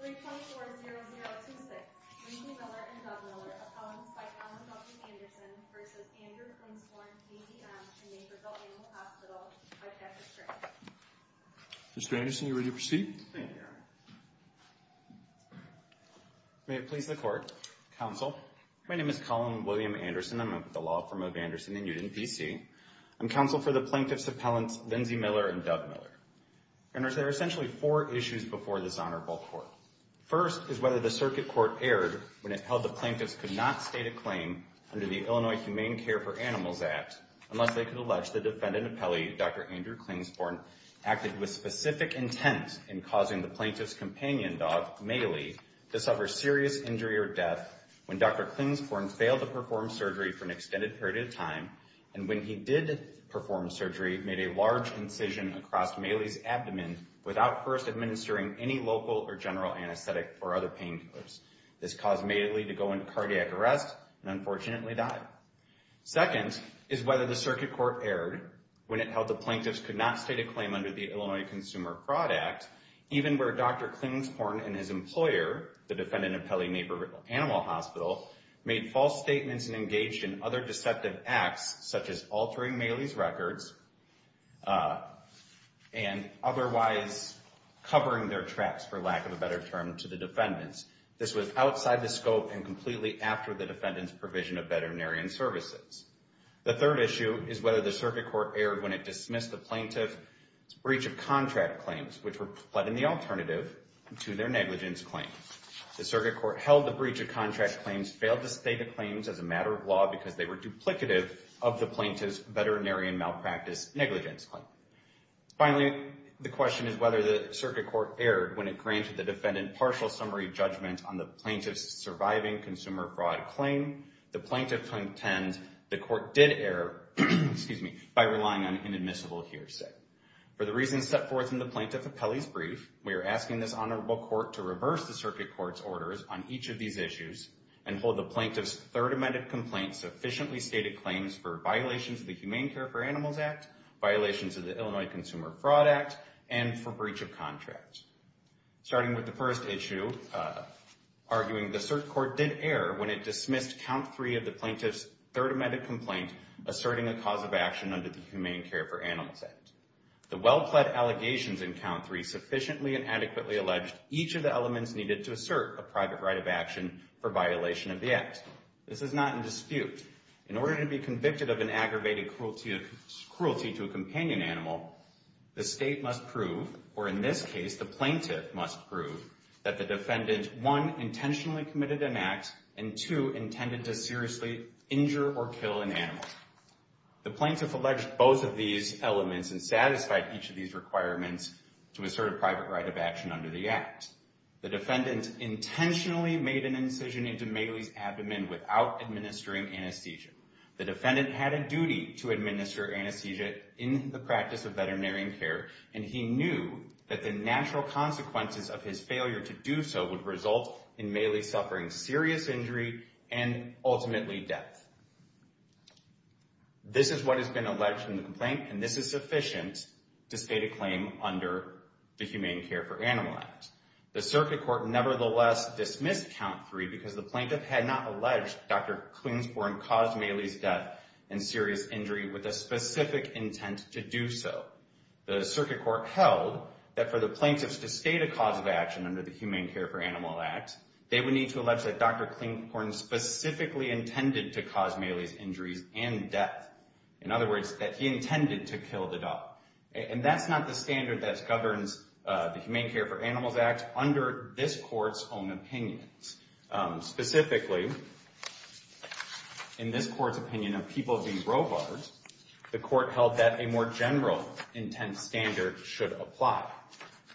324-0026 Lindsey Miller and Doug Miller, appellants by Colin W. Anderson v. Andrew Klingsporn VDM in Naperville Animal Hospital v. Patrick Strange Mr. Anderson, are you ready to proceed? Thank you, Your Honor. May it please the Court, Counsel. My name is Colin William Anderson. I'm with the Law Firm of Anderson in Newton, B.C. I'm counsel for the plaintiffs' appellants Lindsey Miller and Doug Miller. There are essentially four issues before this honorable court. First is whether the circuit court erred when it held the plaintiffs could not state a claim under the Illinois Humane Care for Animals Act unless they could allege the defendant appellee, Dr. Andrew Klingsporn, acted with specific intent in causing the plaintiff's companion dog, Maylee, to suffer serious injury or death when Dr. Klingsporn failed to perform surgery for an extended period of time and when he did perform surgery, made a large incision across Maylee's abdomen without first administering any local or general anesthetic or other painkillers. This caused Maylee to go into cardiac arrest and unfortunately die. Second is whether the circuit court erred when it held the plaintiffs could not state a claim under the Illinois Consumer Fraud Act even where Dr. Klingsporn and his employer, the defendant appellee Naperville Animal Hospital, made false statements and engaged in other deceptive acts such as altering Maylee's records and otherwise covering their tracks, for lack of a better term, to the defendants. This was outside the scope and completely after the defendant's provision of veterinarian services. The third issue is whether the circuit court erred when it dismissed the plaintiff's breach of contract claims which were put in the alternative to their negligence claim. The circuit court held the breach of contract claims, failed to state the claims as a matter of law because they were duplicative of the plaintiff's veterinarian malpractice negligence claim. Finally, the question is whether the circuit court erred when it granted the defendant partial summary judgment on the plaintiff's surviving consumer fraud claim. The plaintiff contends the court did err by relying on inadmissible hearsay. For the reasons set forth in the plaintiff appellee's brief, we are asking this honorable court to reverse the circuit court's orders on each of these issues and hold the plaintiff's third amended complaint sufficiently stated claims for violations of the Humane Care for Animals Act, violations of the Illinois Consumer Fraud Act, and for breach of contract. Starting with the first issue, arguing the circuit court did err when it dismissed count three of the plaintiff's third amended complaint asserting a cause of action under the Humane Care for Animals Act. The well-pled allegations in count three sufficiently and adequately alleged each of the elements needed to assert a private right of action for violation of the act. This is not in dispute. In order to be convicted of an aggravated cruelty to a companion animal, the state must prove, or in this case the plaintiff must prove, that the defendant, one, intentionally committed an act, and two, intended to seriously injure or kill an animal. The plaintiff alleged both of these elements and satisfied each of these requirements to assert a private right of action under the act. The defendant intentionally made an incision into Mailey's abdomen without administering anesthesia. The defendant had a duty to administer anesthesia in the practice of veterinary care, and he knew that the natural consequences of his failure to do so would result in Mailey suffering serious injury and ultimately death. This is what has been alleged in the complaint, and this is sufficient to state a claim under the Humane Care for Animals Act. The circuit court nevertheless dismissed count three because the plaintiff had not alleged Dr. Queensborough caused Mailey's death and serious injury with a specific intent to do so. The circuit court held that for the plaintiff to state a cause of action under the Humane Care for Animals Act, they would need to allege that Dr. Klinghorn specifically intended to cause Mailey's injuries and death. In other words, that he intended to kill the dog. And that's not the standard that governs the Humane Care for Animals Act under this court's own opinions. Specifically, in this court's opinion of People v. Robards, the court held that a more general intent standard should apply.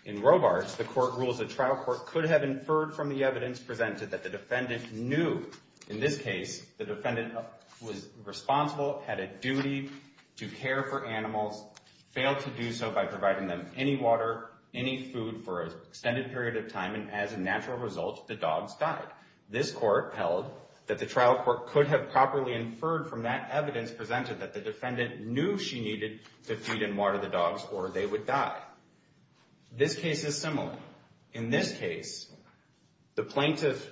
In Robards, the court rules a trial court could have inferred from the evidence presented that the defendant knew. In this case, the defendant was responsible, had a duty to care for animals, failed to do so by providing them any water, any food for an extended period of time, and as a natural result, the dogs died. This court held that the trial court could have properly inferred from that evidence presented that the defendant knew she needed to feed and water the dogs or they would die. This case is similar. In this case, the plaintiff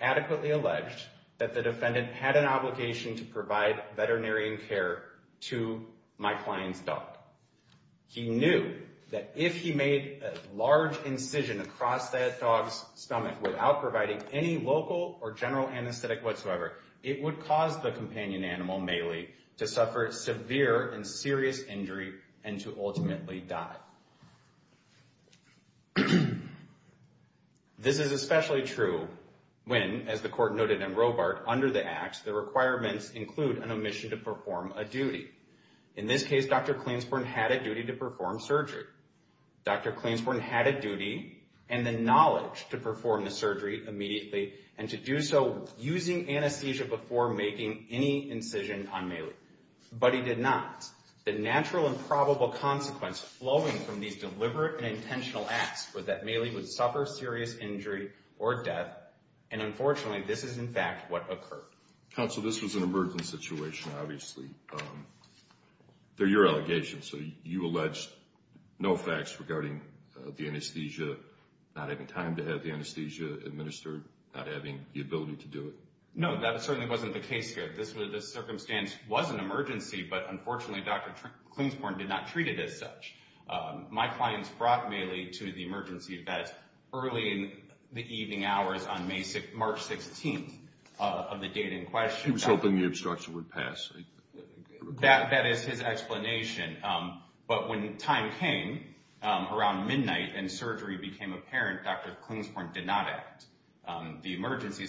adequately alleged that the defendant had an obligation to provide veterinarian care to my client's dog. He knew that if he made a large incision across that dog's stomach without providing any local or general anesthetic whatsoever, it would cause the companion animal, Melee, to suffer severe and serious injury and to ultimately die. This is especially true when, as the court noted in Robard, under the acts, the requirements include an omission to perform a duty. In this case, Dr. Clainsborn had a duty to perform surgery. Dr. Clainsborn had a duty and the knowledge to perform the surgery immediately and to do so using anesthesia before making any incision on Melee, but he did not. The natural and probable consequence flowing from these deliberate and intentional acts was that Melee would suffer serious injury or death, and unfortunately, this is in fact what occurred. Counsel, this was an emergency situation, obviously. They're your allegations, so you allege no facts regarding the anesthesia, but not having time to have the anesthesia administered, not having the ability to do it. No, that certainly wasn't the case here. This circumstance was an emergency, but unfortunately, Dr. Clainsborn did not treat it as such. My clients brought Melee to the emergency vet early in the evening hours on March 16th of the date in question. He was hoping the obstruction would pass. That is his explanation, but when time came around midnight and surgery became apparent, Dr. Clainsborn did not act. The emergency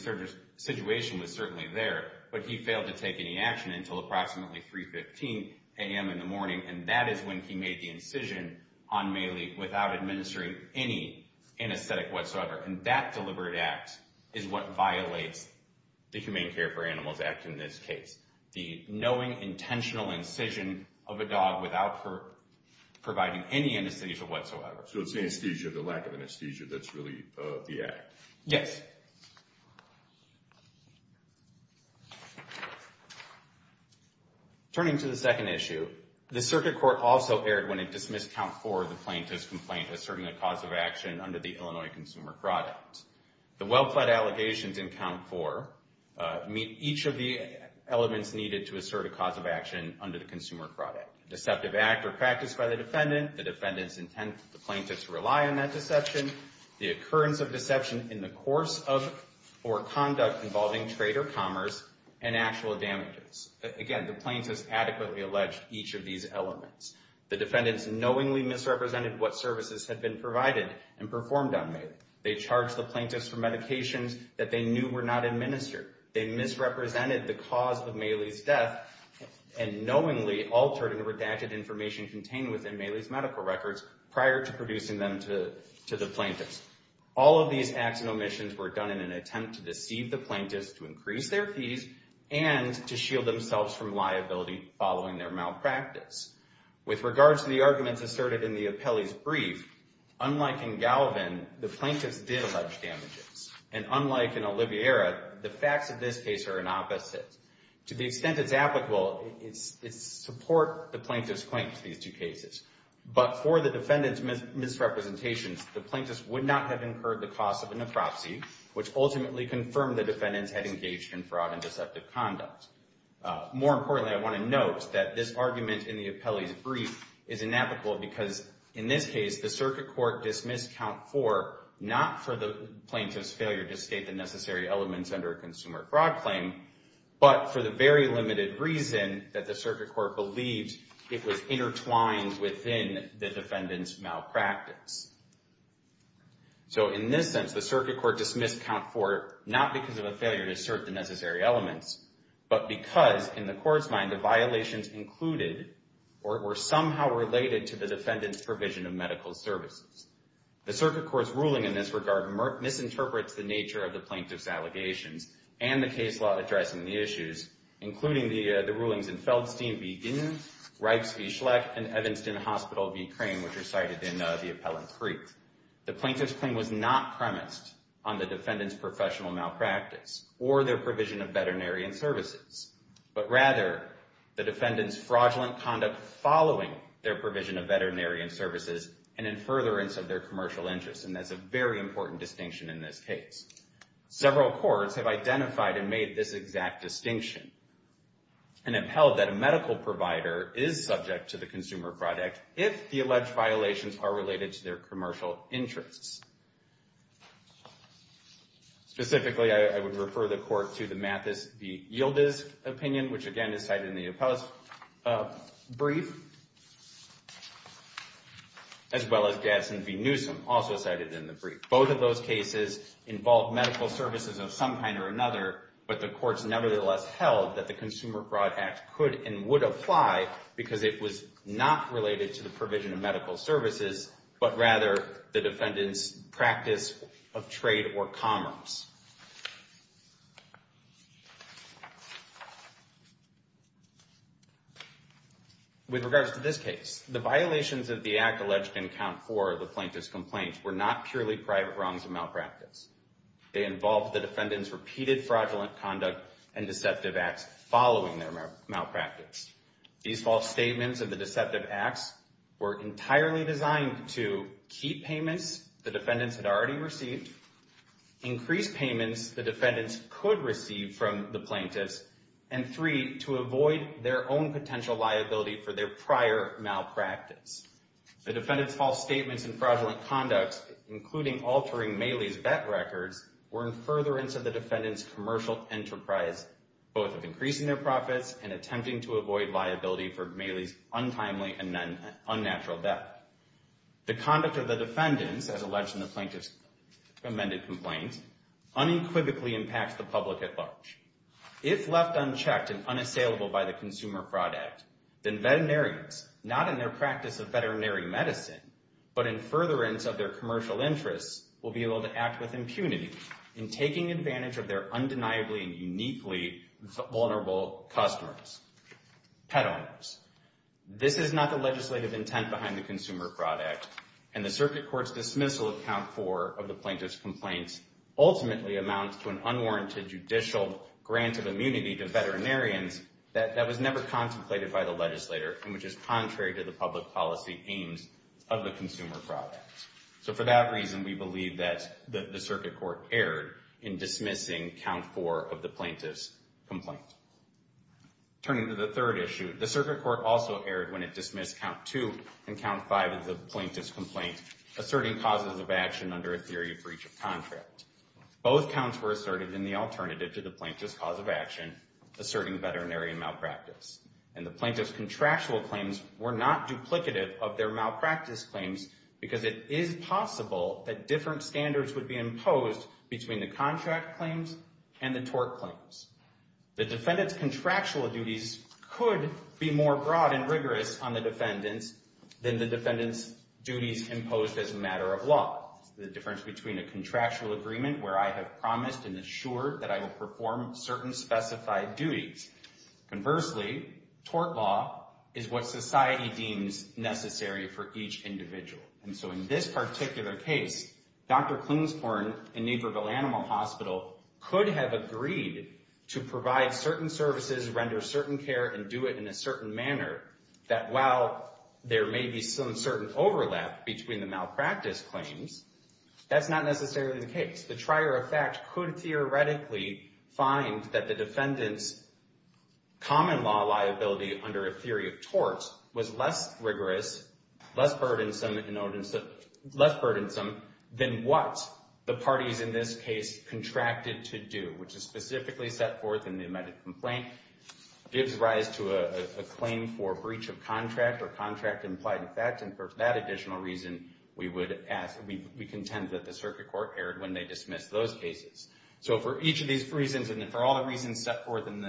situation was certainly there, but he failed to take any action until approximately 3.15 a.m. in the morning, and that is when he made the incision on Melee without administering any anesthetic whatsoever, and that deliberate act is what violates the Humane Care for Animals Act in this case. The knowing, intentional incision of a dog without providing any anesthesia whatsoever. So it's the anesthesia, the lack of anesthesia, that's really the act. Yes. Turning to the second issue, the circuit court also erred when it dismissed Count 4, the plaintiff's complaint, as serving a cause of action under the Illinois Consumer Product. The well-fled allegations in Count 4 meet each of the elements needed to assert a cause of action under the Consumer Product. Deceptive act or practice by the defendant, the defendant's intent for the plaintiff to rely on that deception, the occurrence of deception in the course of or conduct involving trade or commerce, and actual damages. Again, the plaintiff's adequately alleged each of these elements. The defendant's knowingly misrepresented what services had been provided and performed on Melee. They charged the plaintiffs for medications that they knew were not administered. They misrepresented the cause of Melee's death and knowingly altered and redacted information contained within Melee's medical records prior to producing them to the plaintiffs. All of these acts and omissions were done in an attempt to deceive the plaintiffs to increase their fees and to shield themselves from liability following their malpractice. With regards to the arguments asserted in the appellee's brief, unlike in Galvin, the plaintiffs did allege damages. And unlike in Oliviera, the facts of this case are an opposite. To the extent it's applicable, it supports the plaintiff's claim to these two cases. But for the defendant's misrepresentations, the plaintiffs would not have incurred the cost of a necropsy, which ultimately confirmed the defendants had engaged in fraud and deceptive conduct. More importantly, I want to note that this argument in the appellee's brief is inapplicable because in this case, the circuit court dismissed count four, not for the plaintiff's failure to state the necessary elements under a consumer fraud claim, but for the very limited reason that the circuit court believed it was intertwined within the defendant's malpractice. So in this sense, the circuit court dismissed count four, not because of a failure to assert the necessary elements, but because, in the court's mind, the violations included or were somehow related to the defendant's provision of medical services. The circuit court's ruling in this regard misinterprets the nature of the plaintiff's allegations and the case law addressing the issues, including the rulings in Feldstein v. Ginn, Reips v. Schlecht, and Evanston Hospital v. Crane, which are cited in the appellant's brief. The plaintiff's claim was not premised on the defendant's professional malpractice or their provision of veterinary services, but rather the defendant's fraudulent conduct following their provision of veterinary services and in furtherance of their commercial interests, and that's a very important distinction in this case. Several courts have identified and made this exact distinction and have held that a medical provider is subject to the consumer fraud act if the alleged violations are related to their commercial interests. Specifically, I would refer the court to the Mathis v. Yildiz opinion, which again is cited in the appellant's brief, as well as Gadsden v. Newsom, also cited in the brief. Both of those cases involve medical services of some kind or another, but the courts nevertheless held that the consumer fraud act could and would apply because it was not related to the provision of medical services, but rather the defendant's practice of trade or commerce. With regards to this case, the violations of the act alleged in Count 4 of the plaintiff's complaint were not purely private wrongs of malpractice. They involved the defendant's repeated fraudulent conduct and deceptive acts following their malpractice. These false statements of the deceptive acts were entirely designed to keep payments the defendants had already received, increase payments the defendants could receive from the plaintiffs, and three, to avoid their own potential liability for their prior malpractice. The defendant's false statements and fraudulent conducts, including altering Mailey's bet records, were in furtherance of the defendant's commercial enterprise, both of increasing their profits and attempting to avoid liability for Mailey's untimely and unnatural death. The conduct of the defendants, as alleged in the plaintiff's amended complaint, unequivocally impacts the public at large. If left unchecked and unassailable by the consumer fraud act, then veterinarians, not in their practice of veterinary medicine, but in furtherance of their commercial interests, will be able to act with impunity in taking advantage of their undeniably and uniquely vulnerable customers, pet owners. This is not the legislative intent behind the consumer fraud act, and the circuit court's dismissal of count four of the plaintiff's complaints ultimately amounts to an unwarranted judicial grant of immunity to veterinarians that was never contemplated by the legislator and which is contrary to the public policy aims of the consumer fraud act. So for that reason, we believe that the circuit court erred in dismissing count four of the plaintiff's complaint. Turning to the third issue, the circuit court also erred when it dismissed count two and count five of the plaintiff's complaint, asserting causes of action under a theory of breach of contract. Both counts were asserted in the alternative to the plaintiff's cause of action, asserting veterinary malpractice. And the plaintiff's contractual claims were not duplicative of their malpractice claims because it is possible that different standards would be imposed between the contract claims and the tort claims. The defendant's contractual duties could be more broad and rigorous on the defendants than the defendant's duties imposed as a matter of law. The difference between a contractual agreement where I have promised and assured that I will perform certain specified duties. Conversely, tort law is what society deems necessary for each individual. And so in this particular case, Dr. Klingsborn in Neighborville Animal Hospital could have agreed to provide certain services, render certain care, and do it in a certain manner, that while there may be some certain overlap between the malpractice claims, that's not necessarily the case. The trier of fact could theoretically find that the defendant's common law liability under a theory of tort was less rigorous, less burdensome, than what the parties in this case contracted to do, which is specifically set forth in the amended complaint. Gives rise to a claim for breach of contract or contract implied in fact, and for that additional reason, we contend that the circuit court erred when they dismissed those cases. So for each of these reasons, and for all the reasons set forth in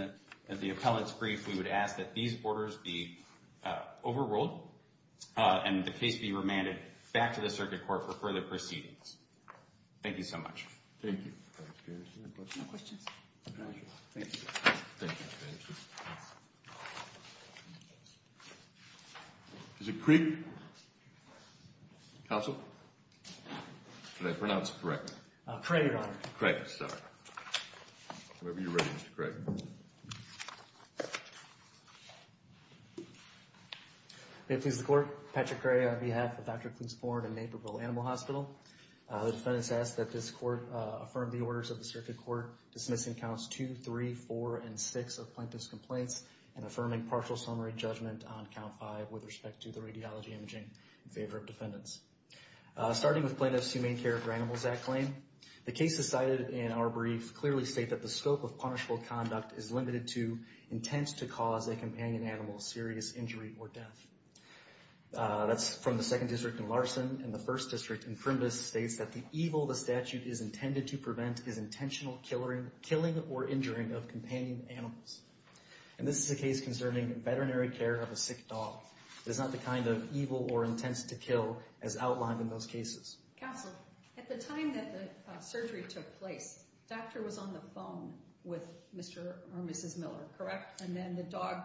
the appellant's brief, we would ask that these orders be overruled, and the case be remanded back to the circuit court for further proceedings. Thank you so much. Thank you. No questions? Thank you. Thank you. Is it Craig? Counsel? Did I pronounce it correctly? Craig, Your Honor. Craig, sorry. Whenever you're ready, Mr. Craig. May it please the Court. Patrick Craig on behalf of Dr. Cluse-Ford and Naperville Animal Hospital. The defendant has asked that this court affirm the orders of the circuit court dismissing counts two, three, four, and six of plaintiff's complaints and affirming partial summary judgment on count five with respect to the radiology imaging in favor of defendants. Starting with plaintiff's Humane Care for Animals Act claim, the cases cited in our brief clearly state that the scope of punishable conduct is limited to intent to cause a companion animal serious injury or death. That's from the Second District in Larson, and the First District in Primus states that the evil the statute is intended to prevent is intentional killing or injuring of companion animals. And this is a case concerning veterinary care of a sick dog. It is not the kind of evil or intent to kill as outlined in those cases. Counsel, at the time that the surgery took place, doctor was on the phone with Mr. or Mrs. Miller, correct? And then the dog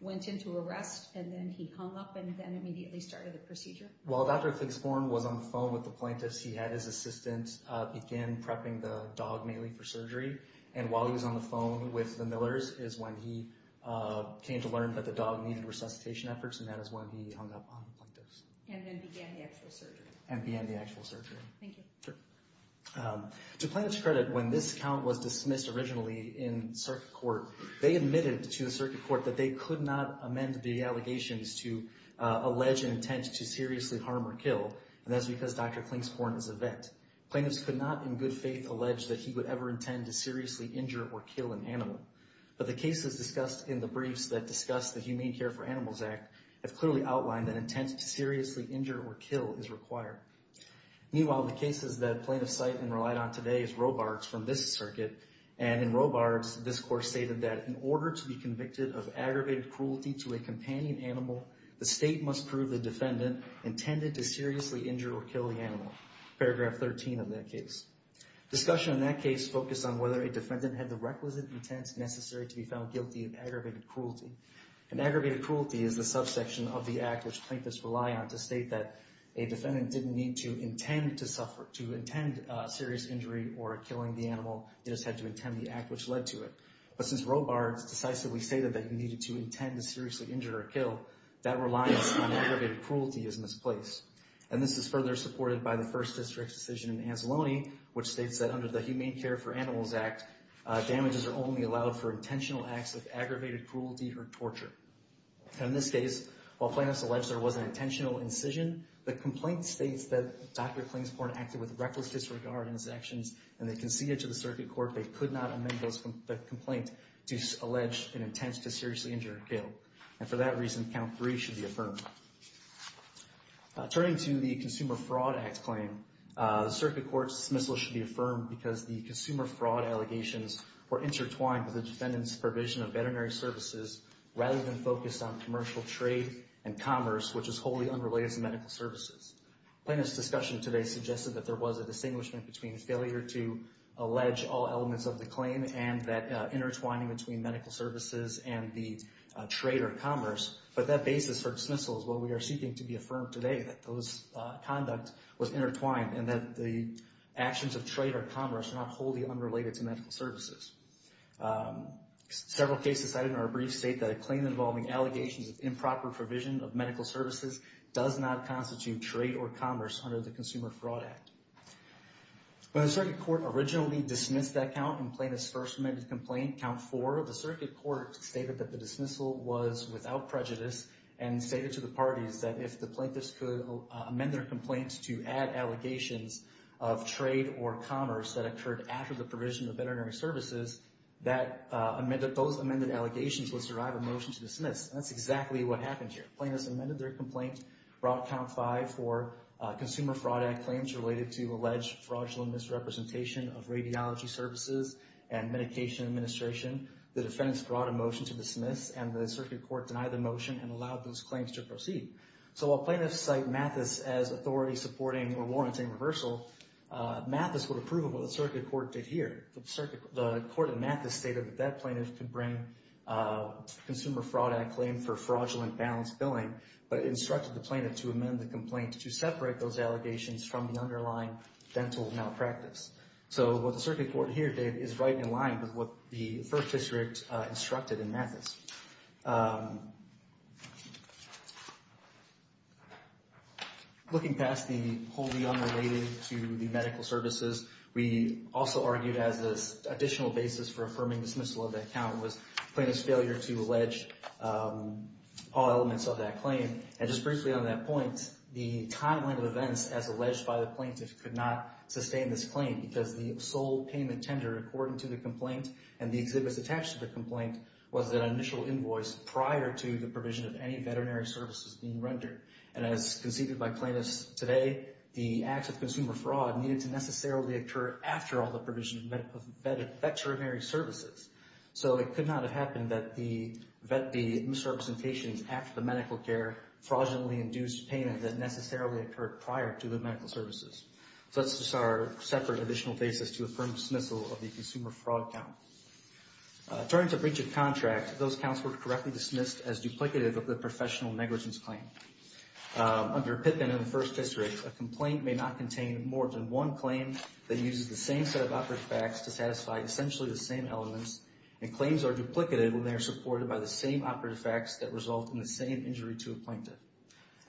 went into arrest, and then he hung up, and then immediately started the procedure? While Dr. Figsborn was on the phone with the plaintiffs, he had his assistant begin prepping the dog mainly for surgery. And while he was on the phone with the Millers is when he came to learn that the dog needed resuscitation efforts, and that is when he hung up on the plaintiffs. And then began the actual surgery? And began the actual surgery. Thank you. Sure. To plaintiff's credit, when this count was dismissed originally in circuit court, they admitted to the circuit court that they could not amend the allegations to allege an intent to seriously harm or kill, and that's because Dr. Klingsborn is a vet. Plaintiffs could not in good faith allege that he would ever intend to seriously injure or kill an animal. But the cases discussed in the briefs that discuss the Humane Care for Animals Act have clearly outlined that intent to seriously injure or kill is required. Meanwhile, the cases that plaintiffs cite and relied on today is Robards from this circuit. And in Robards, this court stated that in order to be convicted of aggravated cruelty to a companion animal, the state must prove the defendant intended to seriously injure or kill the animal. Paragraph 13 of that case. Discussion in that case focused on whether a defendant had the requisite intents necessary to be found guilty of aggravated cruelty. And aggravated cruelty is the subsection of the act which plaintiffs rely on to state that a defendant didn't need to intend to suffer, to intend serious injury or killing the animal. They just had to intend the act which led to it. But since Robards decisively stated that he needed to intend to seriously injure or kill, that reliance on aggravated cruelty is misplaced. And this is further supported by the First District's decision in Ancelone, which states that under the Humane Care for Animals Act, damages are only allowed for intentional acts of aggravated cruelty or torture. In this case, while plaintiffs allege there was an intentional incision, the complaint states that Dr. Klingsborn acted with reckless disregard in his actions and they conceded to the circuit court they could not amend the complaint to allege an intent to seriously injure or kill. And for that reason, Count 3 should be affirmed. Turning to the Consumer Fraud Act claim, the circuit court's dismissal should be affirmed because the consumer fraud allegations were intertwined with the defendant's provision of veterinary services rather than focused on commercial trade and commerce, which is wholly unrelated to medical services. Plaintiffs' discussion today suggested that there was a distinguishment between a failure to allege all elements of the claim and that intertwining between medical services and the trade or commerce, but that basis for dismissal is what we are seeking to be affirmed today, that those conduct was intertwined and that the actions of trade or commerce are not wholly unrelated to medical services. Several cases cited in our brief state that a claim involving allegations of improper provision of medical services does not constitute trade or commerce under the Consumer Fraud Act. When the circuit court originally dismissed that count in plaintiff's first amended complaint, Count 4, the circuit court stated that the dismissal was without prejudice and stated to the parties that if the plaintiffs could amend their complaints to add allegations of trade or commerce that occurred after the provision of veterinary services, that those amended allegations would survive a motion to dismiss. And that's exactly what happened here. Plaintiffs amended their complaint, brought Count 5 for Consumer Fraud Act claims related to alleged fraudulent misrepresentation of radiology services and medication administration. The defendants brought a motion to dismiss and the circuit court denied the motion and allowed those claims to proceed. So while plaintiffs cite Mathis as authority supporting or warranting reversal, Mathis would approve of what the circuit court did here. The court in Mathis stated that that plaintiff could bring Consumer Fraud Act claim for fraudulent balance billing, but instructed the plaintiff to amend the complaint to separate those allegations from the underlying dental malpractice. So what the circuit court here did is right in line with what the First District instructed in Mathis. Looking past the wholly unrelated to the medical services, we also argued as an additional basis for affirming dismissal of the account was plaintiff's failure to allege all elements of that claim. And just briefly on that point, the timeline of events as alleged by the plaintiff could not sustain this claim because the sole payment tender according to the complaint and the exhibits attached to the complaint was an initial invoice prior to the provision of any veterinary services being rendered. And as conceded by plaintiffs today, the acts of consumer fraud needed to necessarily occur after all the provision of veterinary services. So it could not have happened that the misrepresentations after the medical care fraudulently induced payment that necessarily occurred prior to the medical services. So that's just our separate additional basis to affirm dismissal of the consumer fraud count. Turning to breach of contract, those counts were correctly dismissed as duplicative of the professional negligence claim. Under Pippin and the First History, a complaint may not contain more than one claim that uses the same set of operative facts to satisfy essentially the same elements and claims are duplicative when they are supported by the same operative facts that result in the same injury to a plaintiff.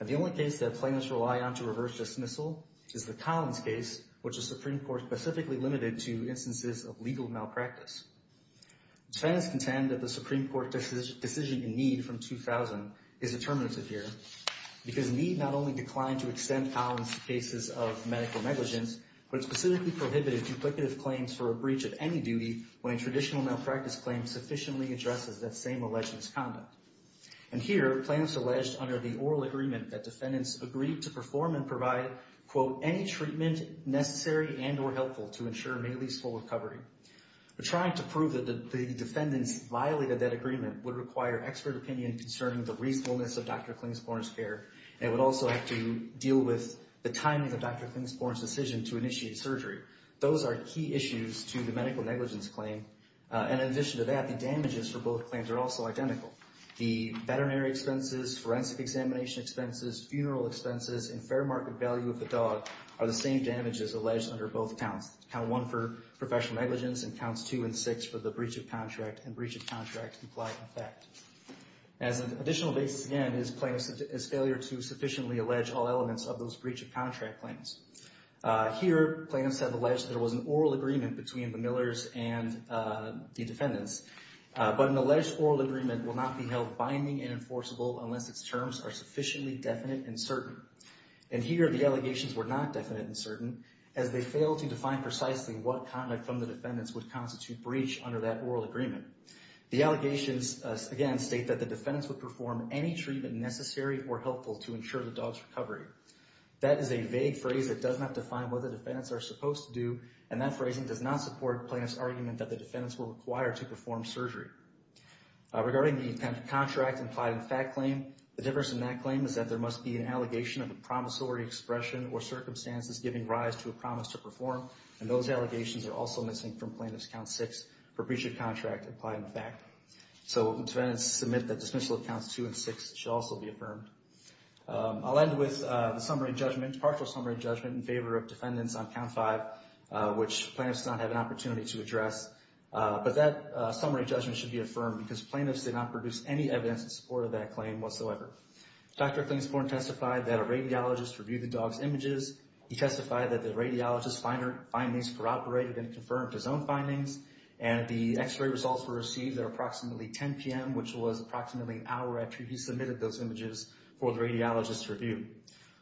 And the only case that plaintiffs rely on to reverse dismissal is the Collins case, which the Supreme Court specifically limited to instances of legal malpractice. Defendants contend that the Supreme Court decision in Need from 2000 is determinative here because Need not only declined to extend Collins' cases of medical negligence, but it specifically prohibited duplicative claims for a breach of any duty when a traditional malpractice claim sufficiently addresses that same alleged misconduct. And here, plaintiffs alleged under the oral agreement that defendants agreed to perform and provide, quote, any treatment necessary and or helpful to ensure Mailey's full recovery. But trying to prove that the defendants violated that agreement would require expert opinion concerning the reasonableness of Dr. Klingsborn's care and would also have to deal with the timing of Dr. Klingsborn's decision to initiate surgery. Those are key issues to the medical negligence claim. And in addition to that, the damages for both claims are also identical. The veterinary expenses, forensic examination expenses, funeral expenses, and fair market value of the dog are the same damages alleged under both counts. Count one for professional negligence and counts two and six for the breach of contract and breach of contract implied in fact. As an additional basis, again, is plaintiffs' failure to sufficiently allege all elements of those breach of contract claims. Here, plaintiffs have alleged there was an oral agreement between the Millers and the defendants. But an alleged oral agreement will not be held binding and enforceable unless its terms are sufficiently definite and certain. And here, the allegations were not definite and certain as they failed to define precisely what conduct from the defendants would constitute breach under that oral agreement. The allegations, again, state that the defendants would perform any treatment necessary or helpful to ensure the dog's recovery. That is a vague phrase that does not define what the defendants are supposed to do, and that phrasing does not support plaintiffs' argument that the defendants were required to perform surgery. Regarding the contract implied in fact claim, the difference in that claim is that there must be an allegation of a promissory expression or circumstances giving rise to a promise to perform, and those allegations are also missing from plaintiffs' count six for breach of contract implied in fact. So defendants submit that dismissal of counts two and six should also be affirmed. I'll end with the summary judgment, partial summary judgment, in favor of defendants on count five, which plaintiffs did not have an opportunity to address. But that summary judgment should be affirmed because plaintiffs did not produce any evidence in support of that claim whatsoever. Dr. Clancyborn testified that a radiologist reviewed the dog's images. He testified that the radiologist's findings corroborated and confirmed his own findings, and the X-ray results were received at approximately 10 p.m., which was approximately an hour after he submitted those images for the radiologist's review.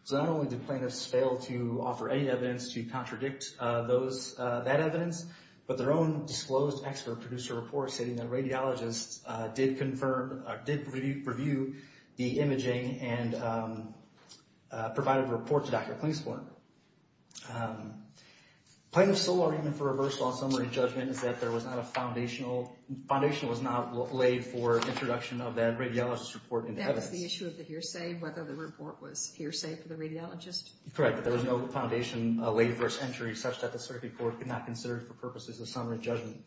So not only did plaintiffs fail to offer any evidence to contradict that evidence, but their own disclosed expert produced a report stating that radiologists did review the imaging and provided a report to Dr. Clancyborn. Plaintiffs' sole argument for reversal on summary judgment is that there was not a foundational foundation was not laid for introduction of that radiologist's report into evidence. That was the issue of the hearsay, whether the report was hearsay for the radiologist? Correct, but there was no foundation laid for its entry such that the circuit court could not consider it for purposes of summary judgment.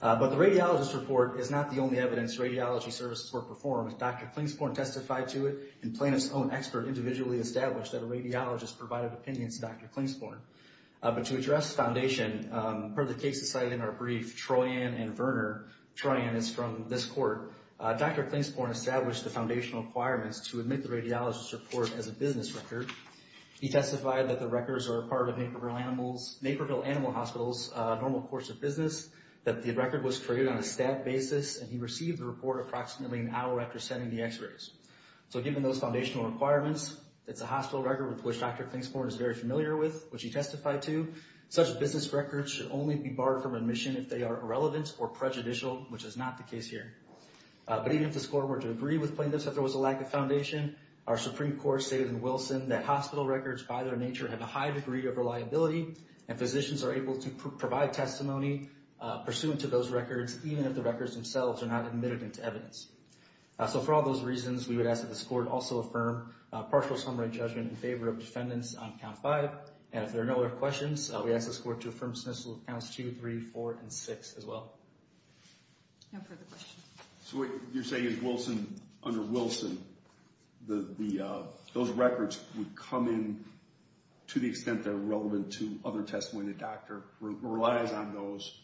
But the radiologist's report is not the only evidence radiology services were performed. Dr. Clancyborn testified to it, and plaintiffs' own expert individually established that a radiologist provided opinions to Dr. Clancyborn. But to address foundation, per the cases cited in our brief, Troian and Verner, Troian is from this court, Dr. Clancyborn established the foundational requirements to admit the radiologist's report as a business record. He testified that the records are a part of Naperville Animal Hospital's normal course of business, that the record was created on a staff basis, and he received the report approximately an hour after sending the x-rays. So given those foundational requirements, it's a hospital record with which Dr. Clancyborn is very familiar with, which he testified to, such business records should only be borrowed from admission if they are irrelevant or prejudicial, which is not the case here. But even if this court were to agree with plaintiffs that there was a lack of foundation, our Supreme Court stated in Wilson that hospital records, by their nature, have a high degree of reliability, and physicians are able to provide testimony pursuant to those records, even if the records themselves are not admitted into evidence. So for all those reasons, we would ask that this court also affirm partial summary judgment in favor of defendants on Count 5, and if there are no other questions, we ask this court to affirm dismissal of Counts 2, 3, 4, and 6 as well. No further questions. So what you're saying is, under Wilson, those records would come in to the extent they're relevant to other testimony, and the doctor relies on those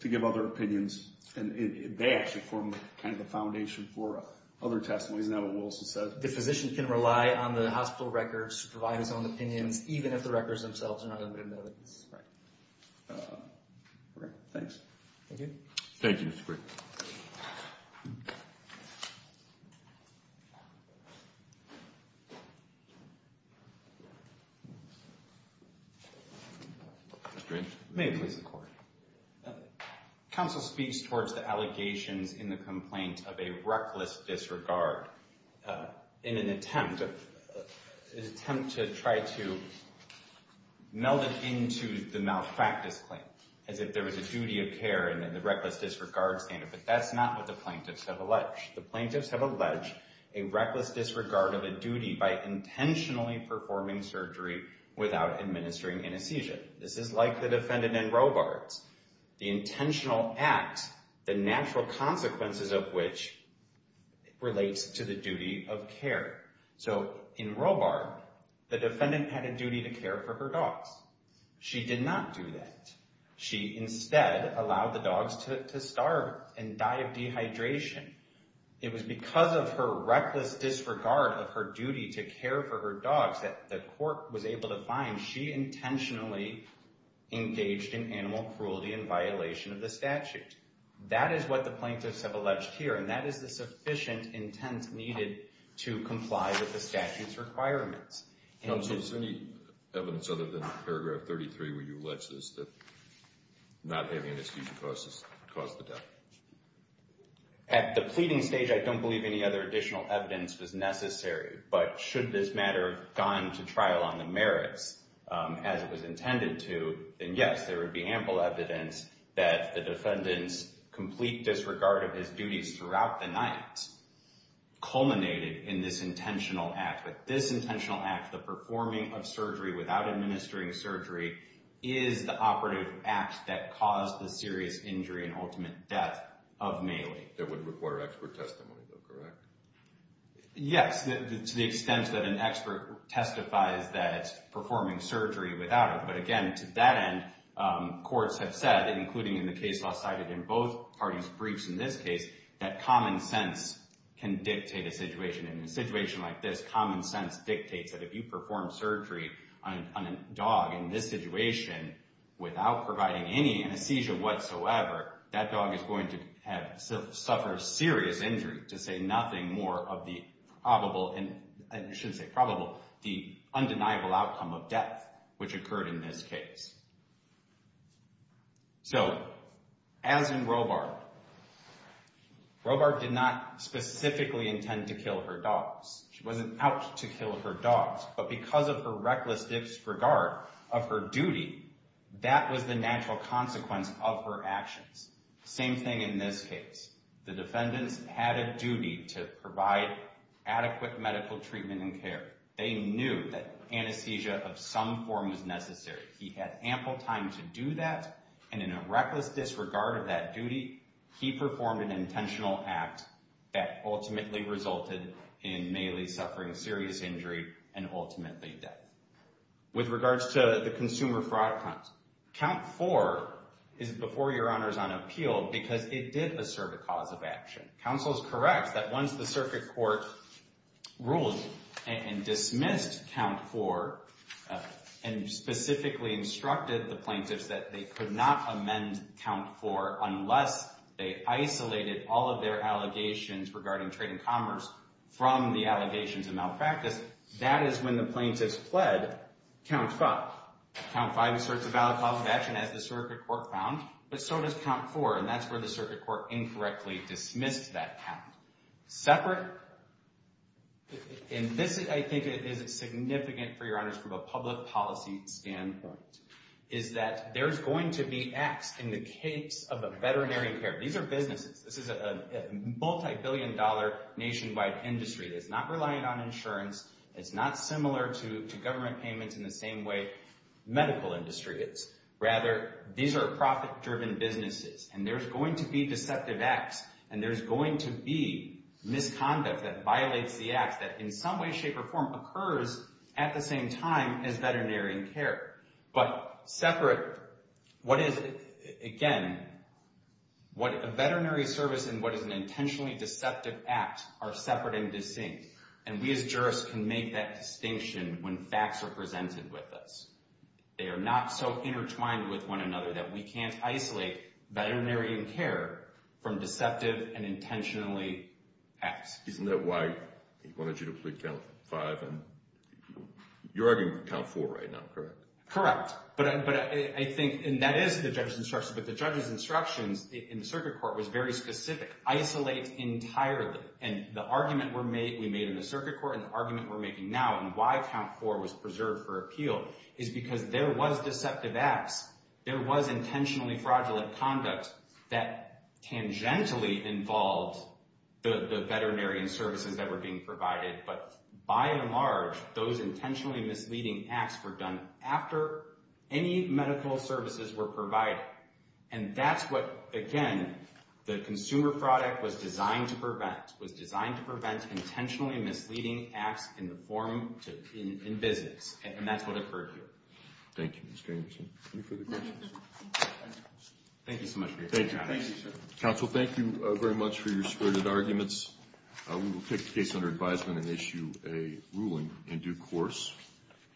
to give other opinions, and they actually form kind of the foundation for other testimonies. Isn't that what Wilson said? The physician can rely on the hospital records to provide his own opinions, even if the records themselves are not admitted into evidence. Right. Okay, thanks. Thank you. Thank you, Mr. Green. Mr. Green. May it please the Court. Counsel speaks towards the allegations in the complaint of a reckless disregard in an attempt to try to meld it into the malpractice claim, as if there was a duty of care in the reckless disregard standard. But that's not what the plaintiffs have alleged. The plaintiffs have alleged a reckless disregard of a duty by intentionally performing surgery without administering anesthesia. This is like the defendant in Robards. The intentional act, the natural consequences of which relates to the duty of care. So in Robard, the defendant had a duty to care for her dogs. She did not do that. She instead allowed the dogs to starve and die of dehydration. It was because of her reckless disregard of her duty to care for her dogs that the Court was able to find she intentionally engaged in animal cruelty in violation of the statute. That is what the plaintiffs have alleged here, and that is the sufficient intent needed to comply with the statute's requirements. So is there any evidence other than paragraph 33 where you allege this, that not having anesthesia caused the death? At the pleading stage, I don't believe any other additional evidence was necessary. But should this matter have gone to trial on the merits as it was intended to, then yes, there would be ample evidence that the defendant's complete disregard of his duties throughout the night culminated in this intentional act. But this intentional act, the performing of surgery without administering surgery, is the operative act that caused the serious injury and ultimate death of Mailey. That would require expert testimony, though, correct? Yes, to the extent that an expert testifies that performing surgery without it. But again, to that end, courts have said, including in the case law cited in both parties' briefs in this case, that common sense can dictate a situation. In a situation like this, common sense dictates that if you perform surgery on a dog in this situation without providing any anesthesia whatsoever, that dog is going to suffer serious injury, to say nothing more of the undeniable outcome of death which occurred in this case. So, as in Robart, Robart did not specifically intend to kill her dogs. She wasn't out to kill her dogs. But because of her reckless disregard of her duty, that was the natural consequence of her actions. Same thing in this case. The defendants had a duty to provide adequate medical treatment and care. They knew that anesthesia of some form was necessary. He had ample time to do that, and in a reckless disregard of that duty, he performed an intentional act that ultimately resulted in Mailey suffering serious injury and ultimately death. With regards to the consumer fraud count, Count 4 is before Your Honors on appeal because it did assert a cause of action. Counsel is correct that once the circuit court ruled and dismissed Count 4 and specifically instructed the plaintiffs that they could not amend Count 4 unless they isolated all of their allegations regarding trade and commerce from the allegations of malpractice, that is when the plaintiffs pled Count 5. Count 5 asserts a valid cause of action as the circuit court found, but so does Count 4, and that's where the circuit court incorrectly dismissed that count. Separate, and this I think is significant for Your Honors from a public policy standpoint, is that there's going to be acts in the case of a veterinary care. These are businesses. This is a multibillion dollar nationwide industry. It's not relying on insurance. It's not similar to government payments in the same way medical industry is. Rather, these are profit-driven businesses, and there's going to be deceptive acts, and there's going to be misconduct that violates the acts that in some way, shape, or form occurs at the same time as veterinary care. But separate, what is it? Again, what a veterinary service and what is an intentionally deceptive act are separate and distinct, and we as jurists can make that distinction when facts are presented with us. They are not so intertwined with one another that we can't isolate veterinary care from deceptive and intentionally acts. Isn't that why he wanted you to plead Count 5? You're arguing Count 4 right now, correct? Correct, but I think, and that is the judge's instructions, but the judge's instructions in the circuit court was very specific. Isolate entirely, and the argument we made in the circuit court and the argument we're making now on why Count 4 was preserved for appeal is because there was deceptive acts. There was intentionally fraudulent conduct that tangentially involved the veterinary services that were being provided, but by and large, those intentionally misleading acts were done after any medical services were provided. And that's what, again, the consumer product was designed to prevent, intentionally misleading acts in business, and that's what occurred here. Thank you, Mr. Anderson. Any further questions? Thank you so much for your time. Thank you, sir. Counsel, thank you very much for your spirited arguments. We will take the case under advisement and issue a ruling in due course.